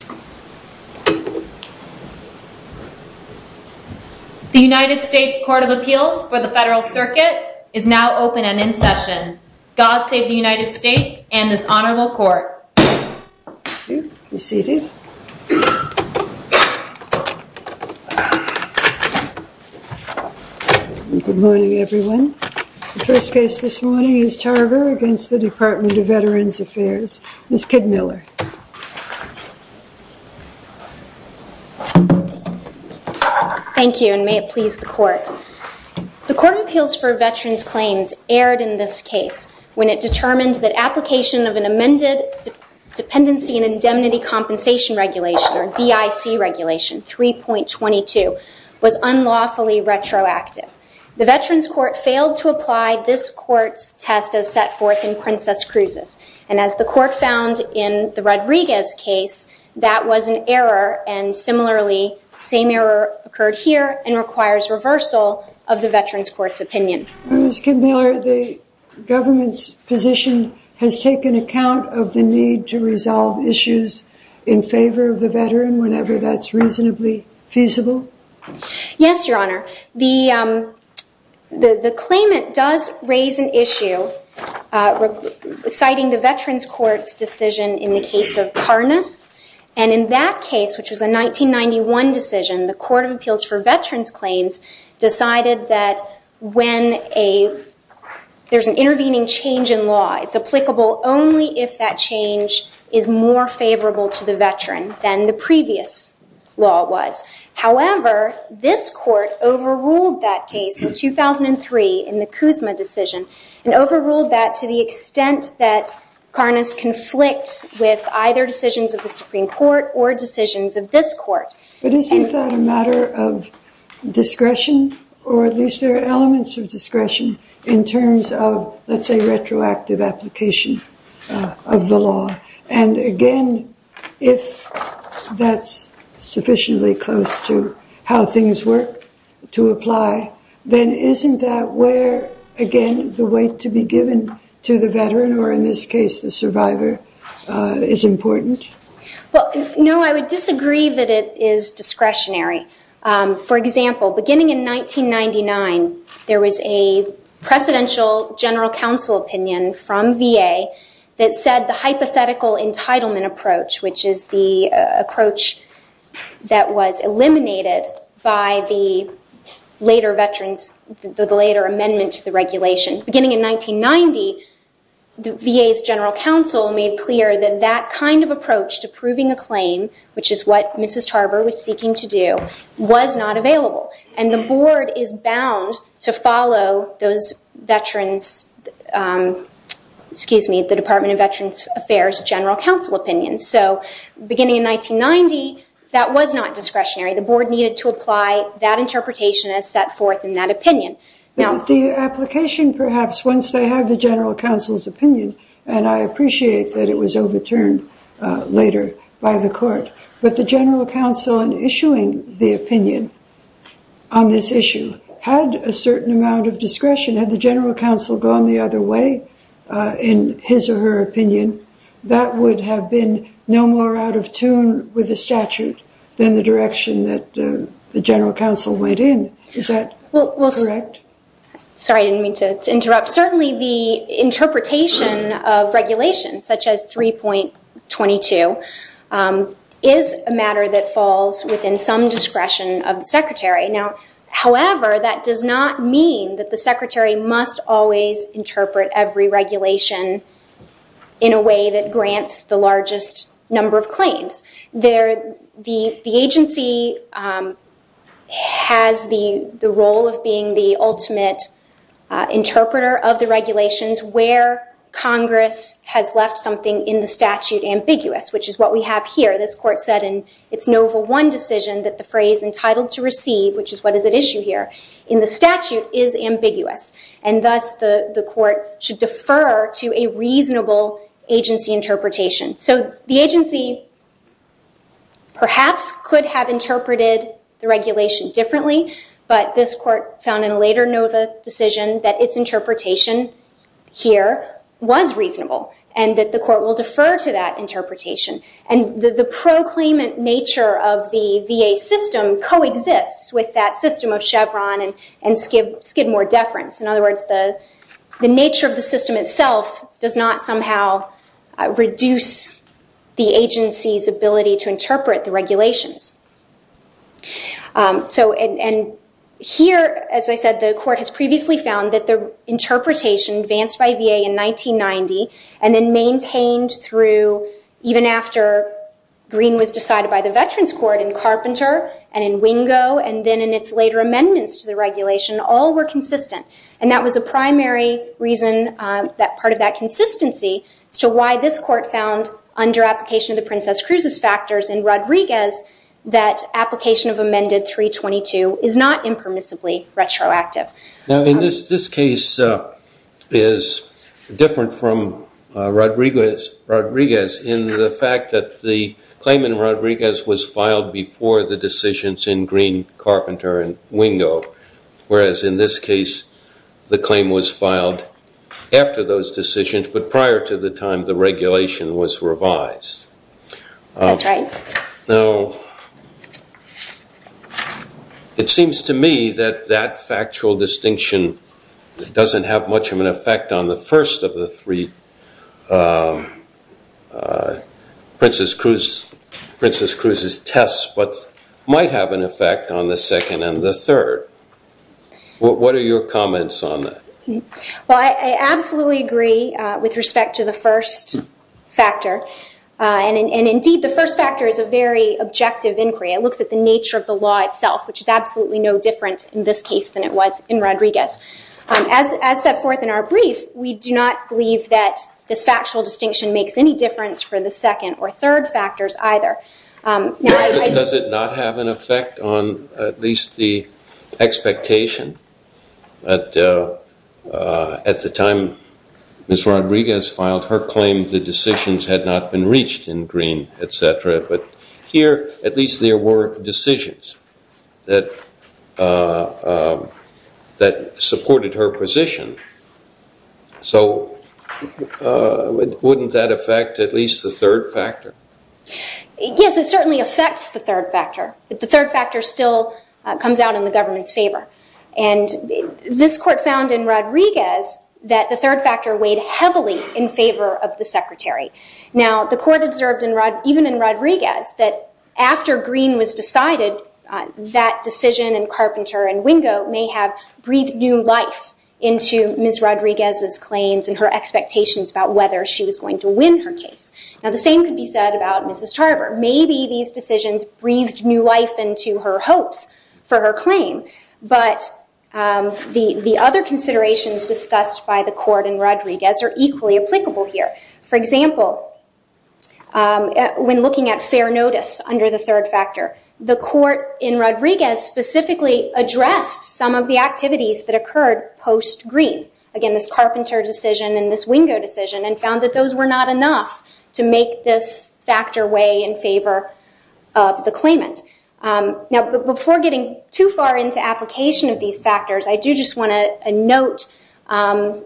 The United States Court of Appeals for the Federal Circuit is now open and in session. God save the United States and this Honorable Court. Thank you. Be seated. Good morning, everyone. The first case this morning is Tarver v. Department of Veterans' Claims. Thank you, and may it please the Court. The Court of Appeals for Veterans' Claims erred in this case when it determined that application of an amended Dependency and Indemnity Compensation Regulation, or DIC Regulation 3.22, was unlawfully retroactive. The Veterans' Court failed to apply this Court's test as that was an error, and similarly, same error occurred here and requires reversal of the Veterans' Court's opinion. Ms. Kidd-Miller, the government's position has taken account of the need to resolve issues in favor of the veteran whenever that's reasonably feasible? Yes, Your Honor. The claimant does raise an issue citing the Veterans' Court's decision in the case of Karnas, and in that case, which was a 1991 decision, the Court of Appeals for Veterans' Claims decided that when there's an intervening change in law, it's applicable only if that change is more favorable to the veteran than the previous law was. However, this Court overruled that case in 2003 in the Kuzma decision, and overruled that to the extent that Karnas conflicts with either decisions of the Supreme Court or decisions of this Court. But isn't that a matter of discretion, or at least there are elements of discretion in terms of, let's say, retroactive application of the law? And again, if that's sufficiently close to how things work to apply, then isn't that where, again, the weight to be given to the veteran, or in this case, the survivor, is important? Well, no, I would disagree that it is discretionary. For example, beginning in 1999, there was a Presidential General Counsel opinion from VA that said the hypothetical entitlement approach, which is the approach that was eliminated by the later veterans, the later amendment to the regulation. Beginning in 1990, the VA's General Counsel made clear that that kind of approach to proving a claim, which is what Mrs. Tarver was seeking to do, was not available. And the board is bound to follow those veterans, excuse me, the Department of Veterans Affairs General Counsel opinions. So beginning in 1990, that was not discretionary. The board needed to apply that interpretation as set forth in that opinion. The application, perhaps, once they have the General Counsel's opinion, and I appreciate that it was overturned later by the Court, but the General Counsel in issuing the opinion on this issue had a certain amount of discretion. Had the General Counsel gone the other way in his or her opinion, that would have been no more out of tune with the statute than the direction that the General Counsel went in. Is that correct? Sorry, I didn't mean to interrupt. Certainly, the interpretation of regulations, such as 3.22, is a matter that falls within some discretion of the Secretary. Now, however, that does not mean that the Secretary must always interpret every regulation in a way that grants the largest number of claims. The agency has the role of being the ultimate interpreter of the regulations where Congress has left something in the statute ambiguous, which is what we have here. This Court said in its Nova I decision that the phrase entitled to receive, which is what is at issue here, in the statute is ambiguous. And thus, the Court should defer to a reasonable agency interpretation. So the agency, perhaps, could have interpreted the regulation differently, but this Court found in a later Nova decision that its interpretation here was reasonable and that the Court will defer to that interpretation. And the proclaimant nature of the VA system coexists with that system of Chevron and Skidmore deference. In other words, the nature of the system itself does not somehow reduce the agency's ability to interpret the regulations. And here, as I said, the Court has previously found that the interpretation advanced by VA in 1990 and then maintained through even after Green was decided by the Veterans Court in Carpenter and in Wingo and then in its later amendments to the regulation, all were consistent. And that was a primary reason that part of that consistency as to why this Court found under application of the Princess Cruz's factors in Rodriguez that application of Amendment 322 is not impermissibly retroactive. Now, in this case, it is different from Rodriguez in the fact that the claimant in Rodriguez was filed before the decisions in Green, Carpenter, and Wingo, whereas in this case, the claim was filed after those decisions but prior to the time the regulation was revised. That's right. Now, it seems to me that that factual distinction doesn't have much of an effect on the first of the three Princess Cruz's tests but might have an effect on the second and the third. What are your comments on that? Well, I absolutely agree with respect to the first factor. And indeed, the first factor is a very objective inquiry. It looks at the nature of the law itself, which is absolutely no different in this case than it was in Rodriguez. As set forth in our brief, we do not believe that this factual distinction makes any difference for the second or third factors either. Does it not have an effect on at least the expectation? At the time Ms. Rodriguez filed, her claim to decisions had not been reached in Green, et cetera. But here, at least there were decisions that supported her position. So wouldn't that affect at least the third factor? Yes, it certainly affects the third factor. But the third factor still comes out in the government's favor. And this court found in Rodriguez that the third factor weighed heavily in favor of the Secretary. Now, the court observed even in Rodriguez that after Green was decided, that decision in Carpenter and Wingo may have breathed new life into Ms. Rodriguez's claims and her expectations about whether she was going to win her case. Now, the same could be said about Mrs. Tarver. Maybe these decisions breathed new life into her hopes for her claim. But the other considerations discussed by the court in Rodriguez are equally applicable here. For example, when looking at fair notice under the third factor, the court in Rodriguez specifically addressed some of the activities that occurred post-Green. Again, this Carpenter decision and this Wingo decision, and found that those were not enough to make this factor weigh in favor of the claimant. Now, before getting too far into application of these factors, I do just want to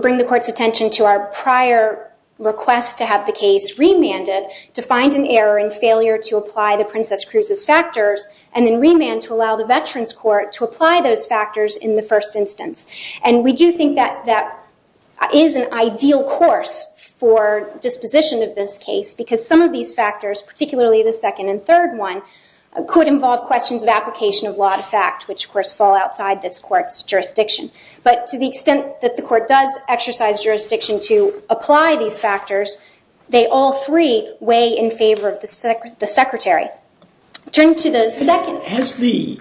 bring the court's attention to our prior request to have the case remanded to find an error in failure to apply the Princess Cruz's factors, and then remand to allow the Veterans Court to apply those factors in the first instance. And we do think that that is an ideal course for disposition of this case, because some of these factors, particularly the second and third one, could involve questions of application of law to fact, which of course fall outside this court's jurisdiction. But to the extent that the court does exercise jurisdiction to apply these factors, they all three weigh in favor of the Secretary. Turn to the second. Has the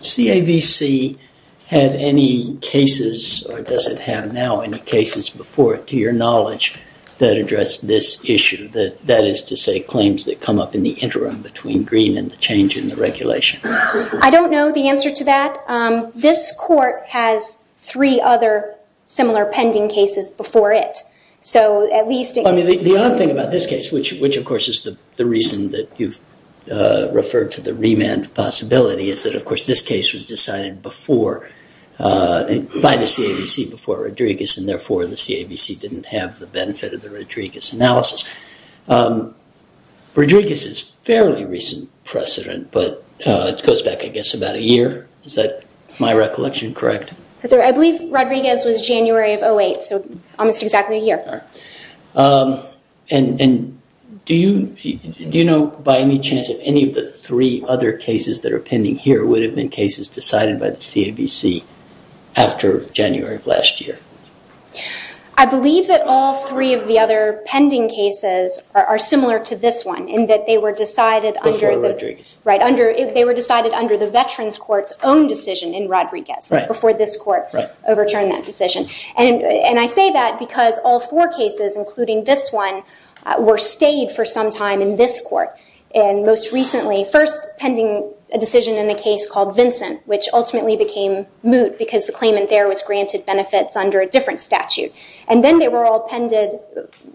CAVC had any cases, or does it have now any cases before it, to your knowledge, that address this issue? That is to say, claims that come up in the interim between Green and the change in the regulation? I don't know the answer to that. This court has three other similar pending cases before it. So at least it can. The odd thing about this case, which of course is the reason that you've referred to the remand possibility, is that of course this case was decided by the CAVC before Rodriguez, and therefore the CAVC didn't have the benefit of the Rodriguez analysis. Rodriguez's fairly recent precedent, but it goes back I guess about a year. Is that my recollection correct? I believe Rodriguez was January of 08, so almost exactly a year. And do you know by any chance if any of the three other cases that are pending here would have been cases decided by the CAVC after January of last year? I believe that all three of the other pending cases are similar to this one, in that they were decided under the Veterans Court's own decision in Rodriguez, before this court overturned that decision. And I say that because all four cases, including this one, were stayed for some time in this court. And most recently, first pending a decision in a case called Vincent, which ultimately became moot because the claimant there was granted benefits under a different statute. And then they were all pended,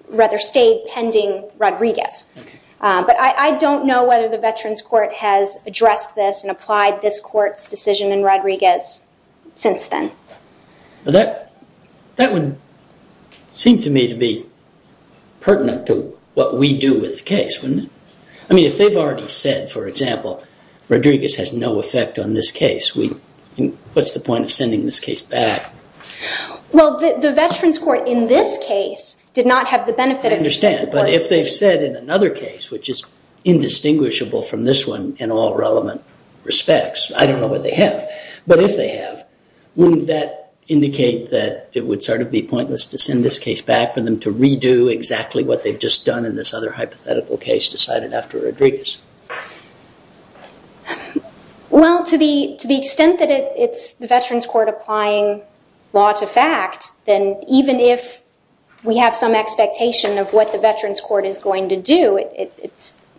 rather stayed, pending Rodriguez. But I don't know whether the Veterans Court has addressed this and applied this court's decision in Rodriguez since then. That would seem to me to be pertinent to what we do with the case, wouldn't it? I mean, if they've already said, for example, Rodriguez has no effect on this case, what's the point of sending this case back? Well, the Veterans Court in this case did not have the benefit of the course. I understand. But if they've said in another case, which is indistinguishable from this one in all relevant respects, I don't know what they have. But if they have, wouldn't that indicate that it would sort of be pointless to send this case back for them to redo exactly what they've just done in this other hypothetical case decided after Rodriguez? Well, to the extent that it's the Veterans Court applying law to fact, then even if we have some expectation of what the Veterans Court is going to do,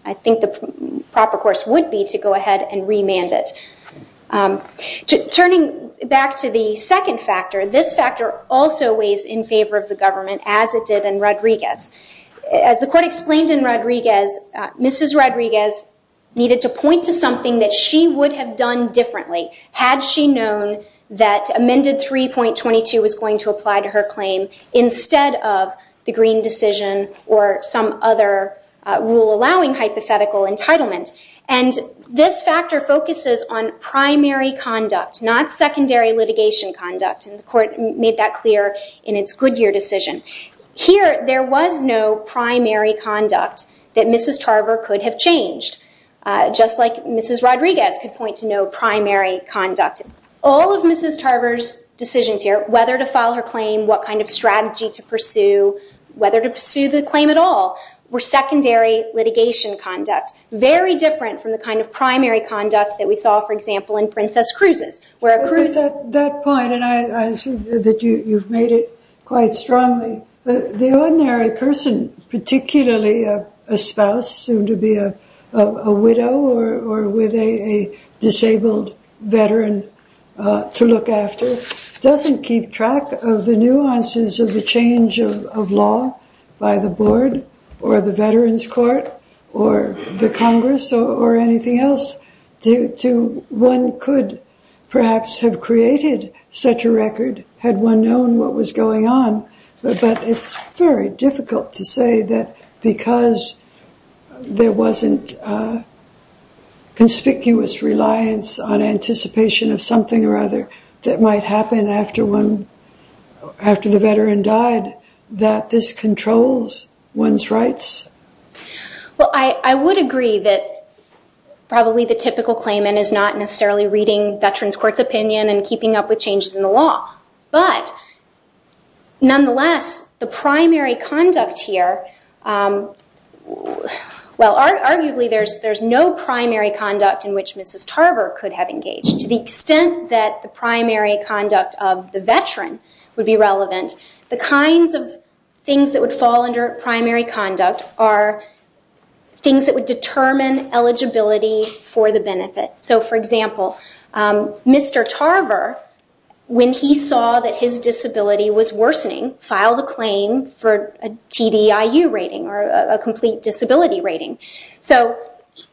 I think the proper course would be to go ahead and remand it. Turning back to the second factor, this factor also weighs in favor of the government as it did in Rodriguez. As the court explained in Rodriguez, Mrs. Rodriguez needed to point to something that she would have done differently had she known that Amendment 3.22 was going to apply to her claim instead of the Green decision or some other rule allowing hypothetical entitlement. And this factor focuses on primary conduct, not secondary litigation conduct. And the court made that clear in its Goodyear decision. Here, there was no primary conduct that Mrs. Tarver could have changed, just like Mrs. Rodriguez could point to no primary conduct. All of Mrs. Tarver's decisions here, whether to file her claim, what kind of strategy to pursue, whether to pursue the claim at all, were secondary litigation conduct, very different from the kind of primary conduct that we saw, for example, in Princess Cruz's, where a Cruz... At that point, and I assume that you've made it quite strongly, the ordinary person, particularly a spouse, soon to be a widow or with a disabled veteran to look after, doesn't keep track of the nuances of the change of law by the board or the Veterans Court or the Congress or anything else. One could perhaps have created such a record had one known what was going on, but it's very difficult to say that because there wasn't conspicuous reliance on anticipation of something or other that might happen after the veteran died, that this controls one's rights. Well, I would agree that probably the typical claimant is not necessarily reading Veterans Court's opinion and keeping up with changes in the law, but nonetheless, the primary conduct here... Well, arguably, there's no primary conduct in which Mrs. Tarver could have engaged. To the extent that the primary conduct of the veteran would be relevant, the kinds of things that would fall under primary conduct are things that would determine eligibility for the benefit. For example, Mr. Tarver, when he saw that his disability was worsening, filed a claim for a TDIU rating or a complete disability rating.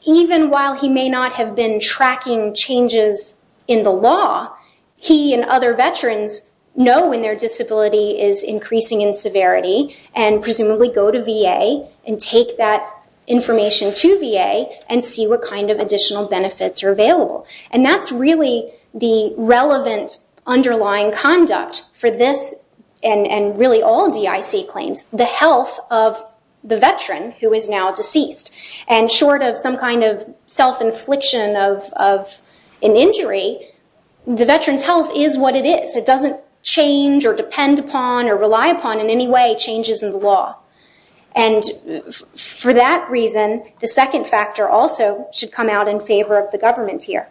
Even while he may not have been tracking changes in the law, he and other veterans know when their disability is increasing in kind of additional benefits are available. That's really the relevant underlying conduct for this and really all DIC claims, the health of the veteran who is now deceased. Short of some kind of self-infliction of an injury, the veteran's health is what it is. It doesn't change or depend upon or rely upon in any way changes in the law. For that reason, the second factor also should come out in favor of the government here.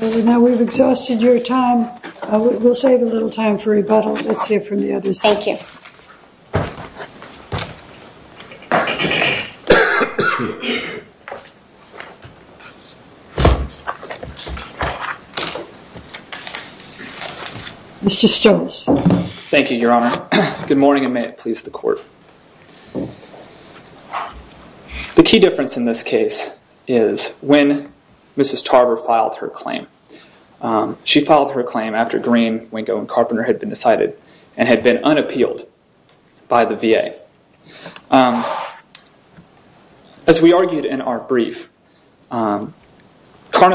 Now, we've exhausted your time. We'll save a little time for rebuttal. Let's hear from the other side. Thank you. Mr. Stokes. Thank you, Your Honor. Good morning and may it please the court. The key difference in this case is when Mrs. Tarver filed her claim. She filed her claim after Green, Wingo and Carpenter had been decided and had been unappealed by the VA. As we argued in our brief, Karnas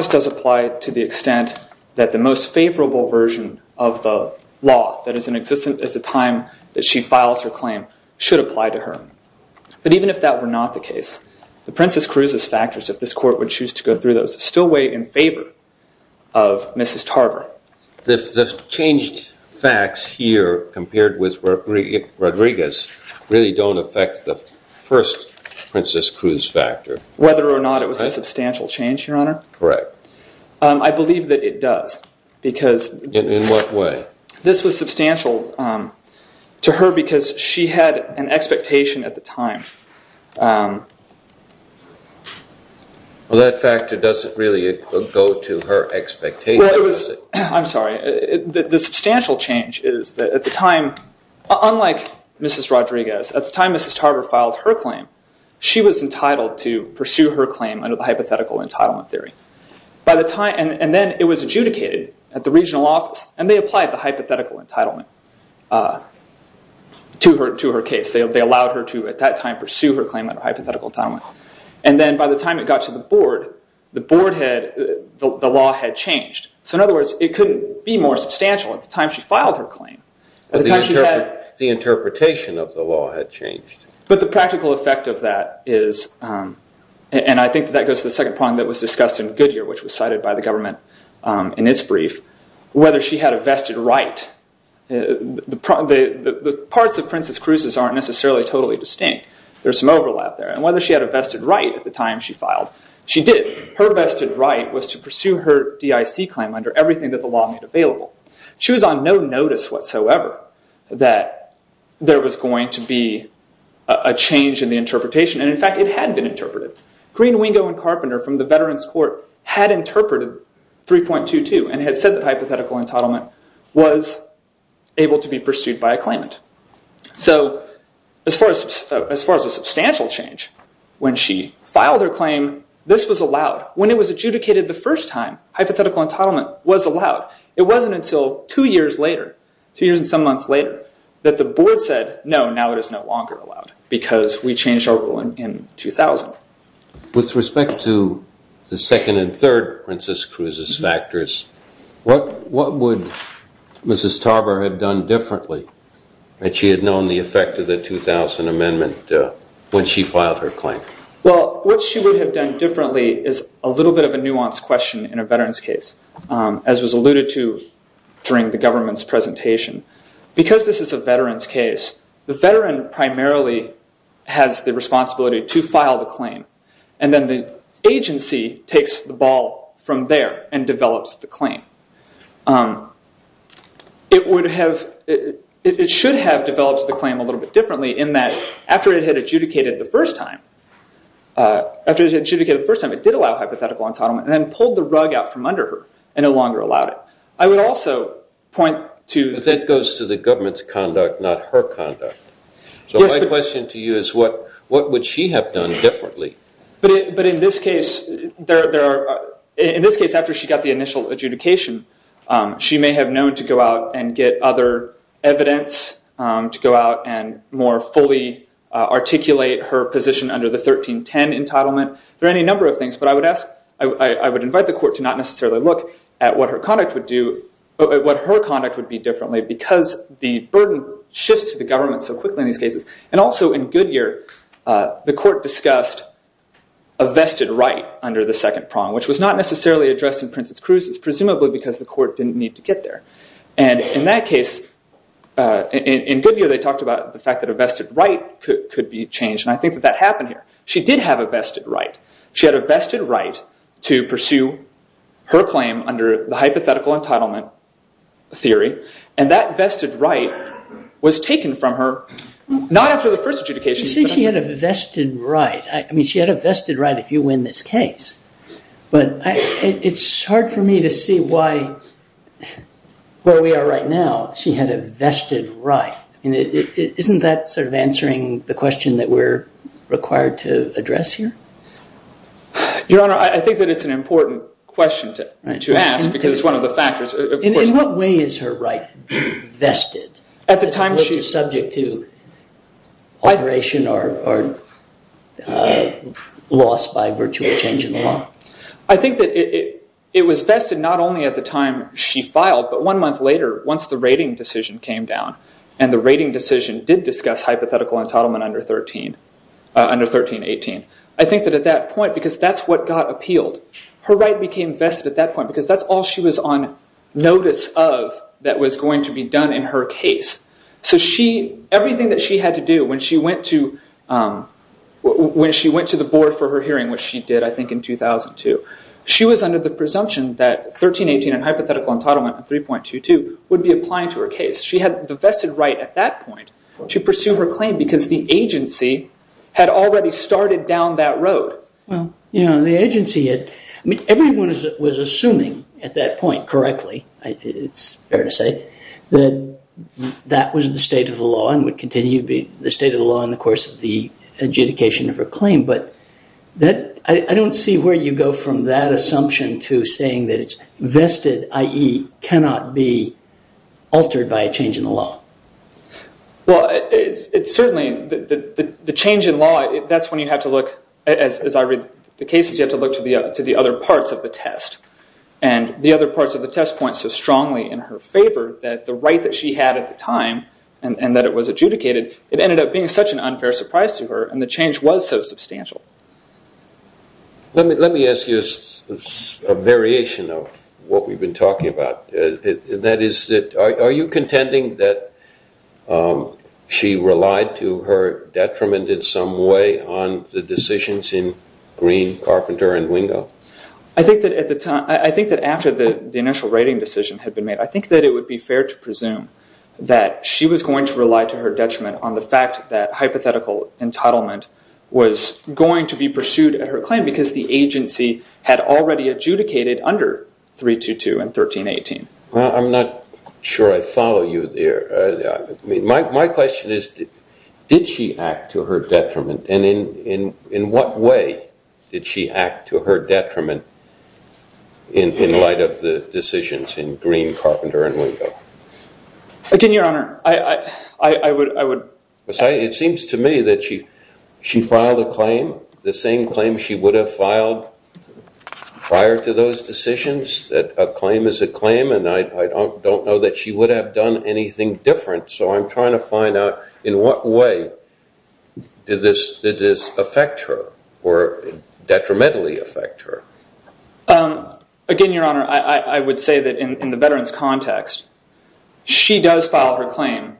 does apply to the extent that the most favorable version of the law that is in existence at the time that she files her claim should apply to her. But even if that were not the case, the Princess Cruz's factors, if this court would choose to go through those, still weigh in favor of Mrs. Tarver. The changed facts here compared with Rodriguez really don't affect the first Princess Cruz factor. Whether or not it was a substantial change, Your Honor? Correct. I believe that it does. In what way? This was substantial to her because she had an expectation at the time. That factor doesn't really go to her expectation. I'm sorry. The substantial change is that at the time, unlike Mrs. Rodriguez, at the time Mrs. Tarver filed her claim, she was entitled to pursue her claim under the hypothetical entitlement theory. And then it was adjudicated at the regional office and they applied the hypothetical entitlement to her case. They allowed her to, at that time, pursue her claim under hypothetical entitlement. And then by the time it got to the board, the law had changed. In other words, it couldn't be more substantial at the time she filed her claim. The interpretation of the law had changed. But the practical effect of that is, and I think that goes to the second problem that was discussed in Goodyear, which was cited by the government in its brief, whether she had a vested right. The parts of Princess Cruz's aren't necessarily totally distinct. There's some overlap there. And whether she had a vested right at the time she filed, she did. Her vested right was to pursue her DIC claim under everything that the law made available. She was on no notice whatsoever that there was going to be a change in the interpretation. And in fact, it had been interpreted. Green, Wingo, and Carpenter from the Veterans Court had interpreted 3.22 and had said that hypothetical entitlement was able to be pursued by a claimant. So as far as a substantial change, when she filed her claim, this was allowed. When it was adjudicated the first time, hypothetical entitlement was allowed. It wasn't until two years later, two years and some months later, that the board said, no, now it is no longer allowed because we changed our ruling in 2000. With respect to the second and third Princess Cruz's factors, what would Mrs. Tarver have done differently that she had known the effect of the 2000 amendment when she filed her claim? Well, what she would have done differently is a little bit of a nuanced question in a way that I alluded to during the government's presentation. Because this is a veteran's case, the veteran primarily has the responsibility to file the claim. And then the agency takes the ball from there and develops the claim. It should have developed the claim a little bit differently in that after it had adjudicated the first time, it did allow hypothetical entitlement and then pulled the rug out from the haystack and no longer allowed it. I would also point to- But that goes to the government's conduct, not her conduct. So my question to you is, what would she have done differently? But in this case, after she got the initial adjudication, she may have known to go out and get other evidence, to go out and more fully articulate her position under the 1310 entitlement. There are any number of things, but I would invite the court to not necessarily look at what her conduct would be differently because the burden shifts to the government so quickly in these cases. And also in Goodyear, the court discussed a vested right under the second prong, which was not necessarily addressed in Princess Cruz's, presumably because the court didn't need to get there. And in that case, in Goodyear, they talked about the fact that a vested right could be changed. And I think that that happened here. She did have a vested right. She had a vested right to pursue her claim under the hypothetical entitlement theory. And that vested right was taken from her, not after the first adjudication. You say she had a vested right. I mean, she had a vested right if you win this case. But it's hard for me to see why, where we are right now, she had a vested right. Isn't that sort of answering the question that we're required to address here? Your Honor, I think that it's an important question to ask because it's one of the factors. In what way is her right vested? At the time she was subject to alteration or loss by virtual change in law? I think that it was vested not only at the time she filed, but one month later, once the rating decision came down. And the rating decision did discuss hypothetical entitlement under 1318. I think that at that point, because that's what got appealed, her right became vested at that point. Because that's all she was on notice of that was going to be done in her case. So everything that she had to do when she went to the board for her hearing, which she did I think in 2002, she was under the presumption that 1318 and hypothetical entitlement 3.22 would be applied to her case. She had the vested right at that point to pursue her claim because the agency had already started down that road. Well, you know, the agency had, I mean, everyone was assuming at that point correctly, it's fair to say, that that was the state of the law and would continue to be the state of the law in the course of the adjudication of her claim. But I don't see where you go from that assumption to saying that it's vested, i.e. cannot be altered by a change in the law. Well, it's certainly the change in law, that's when you have to look, as I read the cases, you have to look to the other parts of the test. And the other parts of the test point so strongly in her favor that the right that she had at the time and that it was adjudicated, it ended up being such an unfair surprise to her and the change was so substantial. Let me ask you a variation of what we've been talking about. That is, are you contending that she relied to her detriment in some way on the decisions in Green, Carpenter, and Wingo? I think that at the time, I think that after the initial writing decision had been made, I think that it would be fair to presume that she was going to rely to her detriment on the fact that hypothetical entitlement was going to be pursued at her claim because the Well, I'm not sure I follow you there. My question is, did she act to her detriment and in what way did she act to her detriment in light of the decisions in Green, Carpenter, and Wingo? Again, Your Honor, I would... It seems to me that she filed a claim, the same claim she would have filed prior to those and I don't know that she would have done anything different, so I'm trying to find out in what way did this affect her or detrimentally affect her? Again, Your Honor, I would say that in the veteran's context, she does file her claim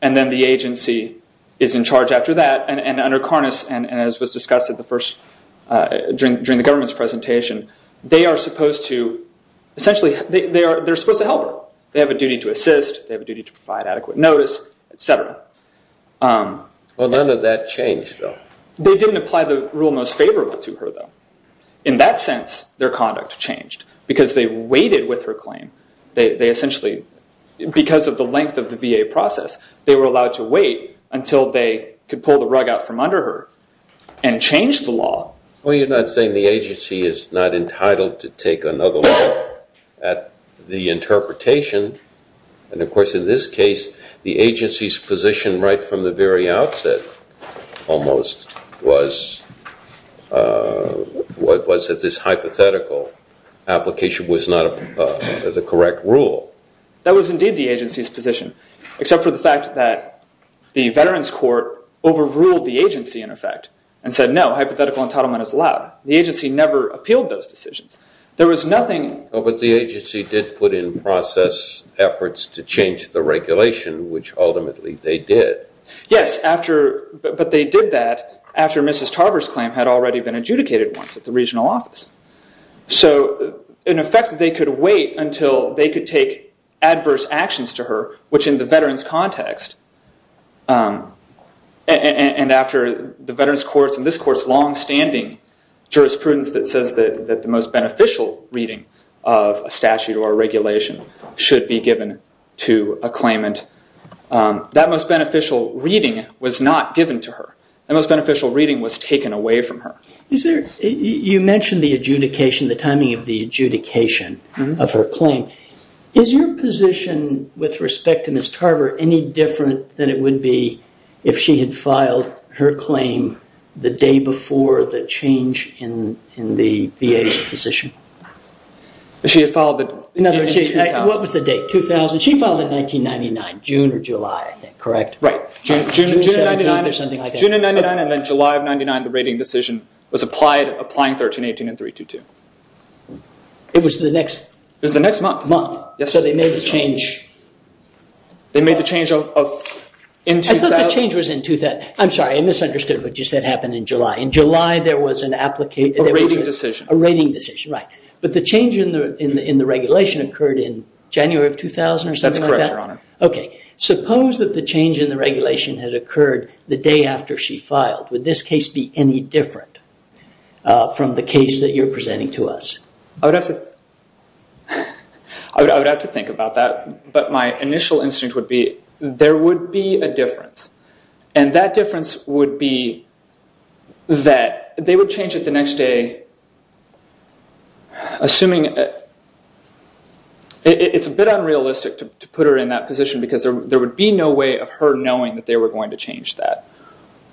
and then the agency is in charge after that and under Karnas and as was discussed at the end of the government's presentation, they are supposed to help her, they have a duty to assist, they have a duty to provide adequate notice, et cetera. Well, none of that changed though. They didn't apply the rule most favorable to her though. In that sense, their conduct changed because they waited with her claim. Because of the length of the VA process, they were allowed to wait until they could pull the rug out from under her and change the law. Well, you're not saying the agency is not entitled to take another look at the interpretation and of course, in this case, the agency's position right from the very outset almost was that this hypothetical application was not the correct rule. That was indeed the agency's position except for the fact that the veteran's court overruled the agency in effect and said, no, hypothetical entitlement is allowed. The agency never appealed those decisions. There was nothing- Oh, but the agency did put in process efforts to change the regulation, which ultimately they did. Yes, but they did that after Mrs. Tarver's claim had already been adjudicated once at the regional office. So in effect, they could wait until they could take adverse actions to her, which in the After the veteran's courts and this court's longstanding jurisprudence that says that the most beneficial reading of a statute or a regulation should be given to a claimant, that most beneficial reading was not given to her. That most beneficial reading was taken away from her. You mentioned the adjudication, the timing of the adjudication of her claim. Is your position with respect to Mrs. Tarver any different than it would be if she had filed her claim the day before the change in the VA's position? She had filed it- In other words, what was the date? 2000? She filed it in 1999, June or July, I think, correct? Right. June of 1999- June or something like that. June of 1999 and then July of 1999, the rating decision was applied, applying 1318 and 322. It was the next- It was the next month. Month. Yes. So they made the change- They made the change of- I thought the change was in 2000. I'm sorry, I misunderstood what you said happened in July. In July, there was an application- A rating decision. A rating decision, right. But the change in the regulation occurred in January of 2000 or something like that? That's correct, Your Honor. Okay. Suppose that the change in the regulation had occurred the day after she filed. Would this case be any different from the case that you're presenting to us? I would have to think about that. But my initial instinct would be there would be a difference. And that difference would be that they would change it the next day, assuming... It's a bit unrealistic to put her in that position because there would be no way of her knowing that they were going to change that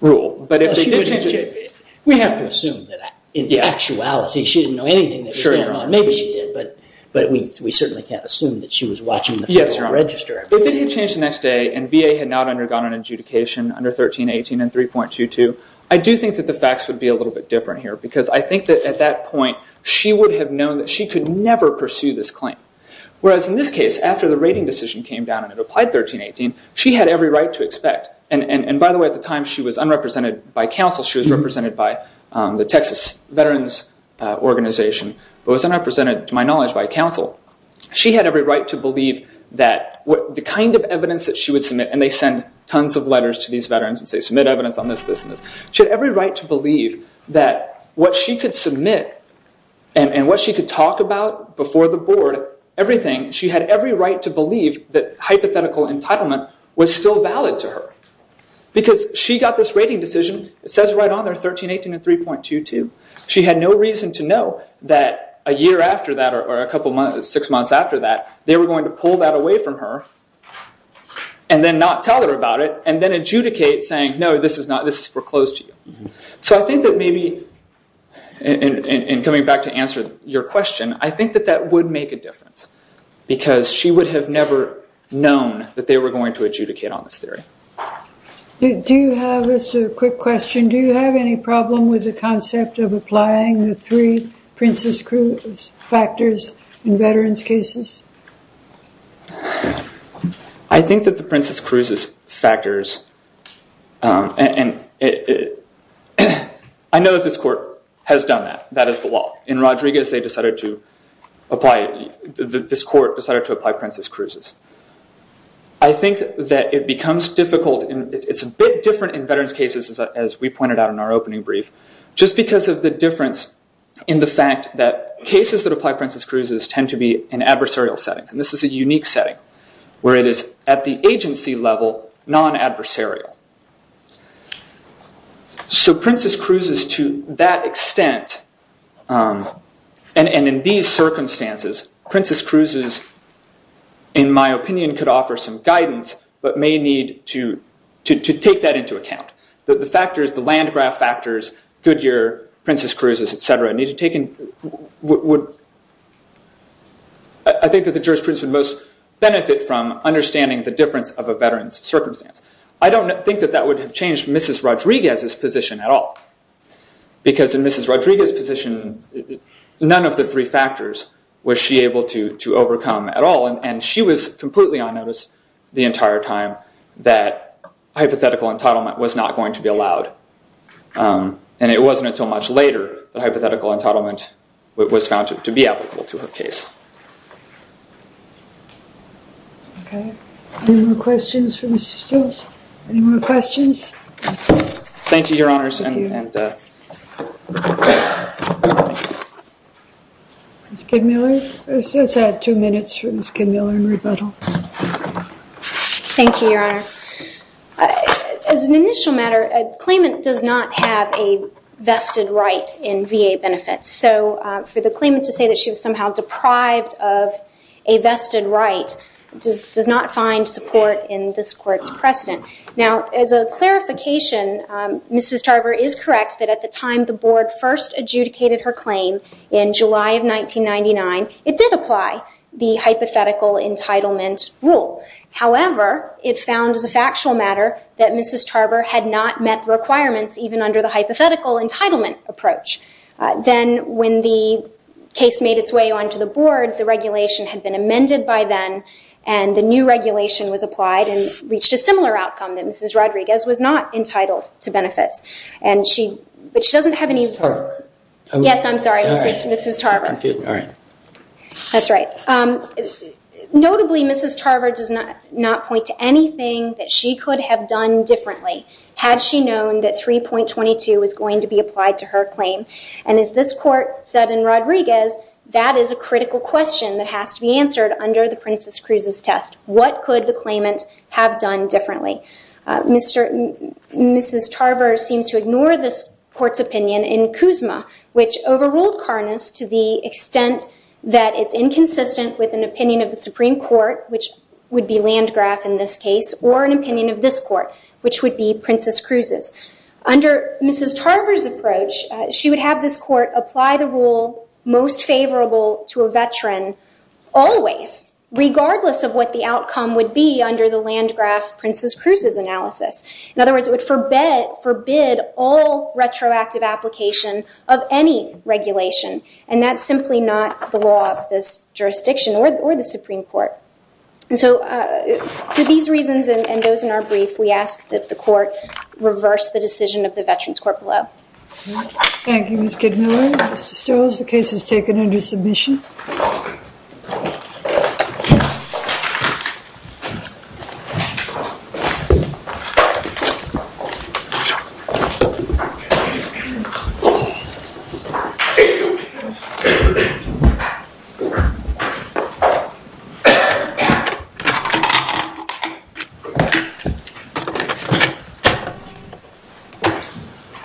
rule. But if they did change it- We have to assume that in actuality, she didn't know anything that was going on. Maybe she did, but we certainly can't assume that she was watching the Federal Register. If they did change the next day and VA had not undergone an adjudication under 1318 and 3.22, I do think that the facts would be a little bit different here because I think that at that point, she would have known that she could never pursue this claim. Whereas in this case, after the rating decision came down and it applied 1318, she had every right to expect... And by the way, at the time, she was unrepresented by counsel. She was represented by the Texas Veterans Organization, but was unrepresented to my knowledge by counsel. She had every right to believe that the kind of evidence that she would submit... And they send tons of letters to these veterans and say, submit evidence on this, this, and this. She had every right to believe that what she could submit and what she could talk about before the board, everything, she had every right to believe that hypothetical entitlement was still valid to her. Because she got this rating decision, it says right on there, 1318 and 3.22. She had no reason to know that a year after that or a couple months, six months after that, they were going to pull that away from her and then not tell her about it and then adjudicate saying, no, this is foreclosed to you. So I think that maybe... And coming back to answer your question, I think that that would make a difference because she would have never known that they were going to adjudicate on this theory. Do you have... This is a quick question. Do you have any problem with the concept of applying the three Princess Cruises factors in veterans cases? I think that the Princess Cruises factors... I know that this court has done that. That is the law. In Rodriguez, they decided to apply... This court decided to apply Princess Cruises. I think that it becomes difficult and it's a bit different in veterans cases as we pointed out in our opening brief, just because of the difference in the fact that cases that apply Princess Cruises tend to be in adversarial settings. This is a unique setting where it is at the agency level, non-adversarial. So Princess Cruises, to that extent, and in these circumstances, Princess Cruises, in my opinion, could offer some guidance, but may need to take that into account. The factors, the land graph factors, Goodyear, Princess Cruises, et cetera, need to take in... I think that the jurisprudence would most benefit from understanding the difference of a veteran's circumstance. I don't think that that would have changed Mrs. Rodriguez's position at all, because in Mrs. Rodriguez's position, none of the three factors was she able to overcome at all. She was completely on notice the entire time that hypothetical entitlement was not going to be allowed. It wasn't until much later that hypothetical entitlement was found to be applicable to her case. Okay. Any more questions for Mrs. Stills? Any more questions? Thank you, Your Honors. Thank you. Ms. Kidmiller? Let's add two minutes for Ms. Kidmiller in rebuttal. Thank you, Your Honor. As an initial matter, a claimant does not have a vested right in VA benefits. For the claimant to say that she was somehow deprived of a vested right does not find support in this Court's precedent. As a clarification, Mrs. Tarver is correct that at the time the Board first adjudicated her claim in July of 1999, it did apply the hypothetical entitlement rule. However, it found as a factual matter that Mrs. Tarver had not met the requirements even under the hypothetical entitlement approach. Then when the case made its way onto the Board, the regulation had been amended by then, and the new regulation was applied and reached a similar outcome that Mrs. Rodriguez was not entitled to benefits. And she, but she doesn't have any... Ms. Tarver. Yes, I'm sorry. I'm confused. All right. That's right. Notably, Mrs. Tarver does not point to anything that she could have done differently had she known that 3.22 was going to be applied to her claim. And as this Court said in Rodriguez, that is a critical question that has to be answered under the Princess Cruz's test. What could the claimant have done differently? Mrs. Tarver seems to ignore this Court's opinion in Kuzma, which overruled Karnas to the extent that it's inconsistent with an opinion of the Supreme Court, which would be Landgraf in this case, or an opinion of this Court, which would be Princess Cruz's. Under Mrs. Tarver's approach, she would have this Court apply the rule most favorable to a veteran always, regardless of what the outcome would be under the Landgraf-Princess Cruz's analysis. In other words, it would forbid all retroactive application of any regulation. And that's simply not the law of this jurisdiction or the Supreme Court. So for these reasons and those in our brief, we ask that the Court reverse the decision of the Veterans Court below. Thank you, Ms. Kidmiller. Mr. Stills, the case is taken under submission.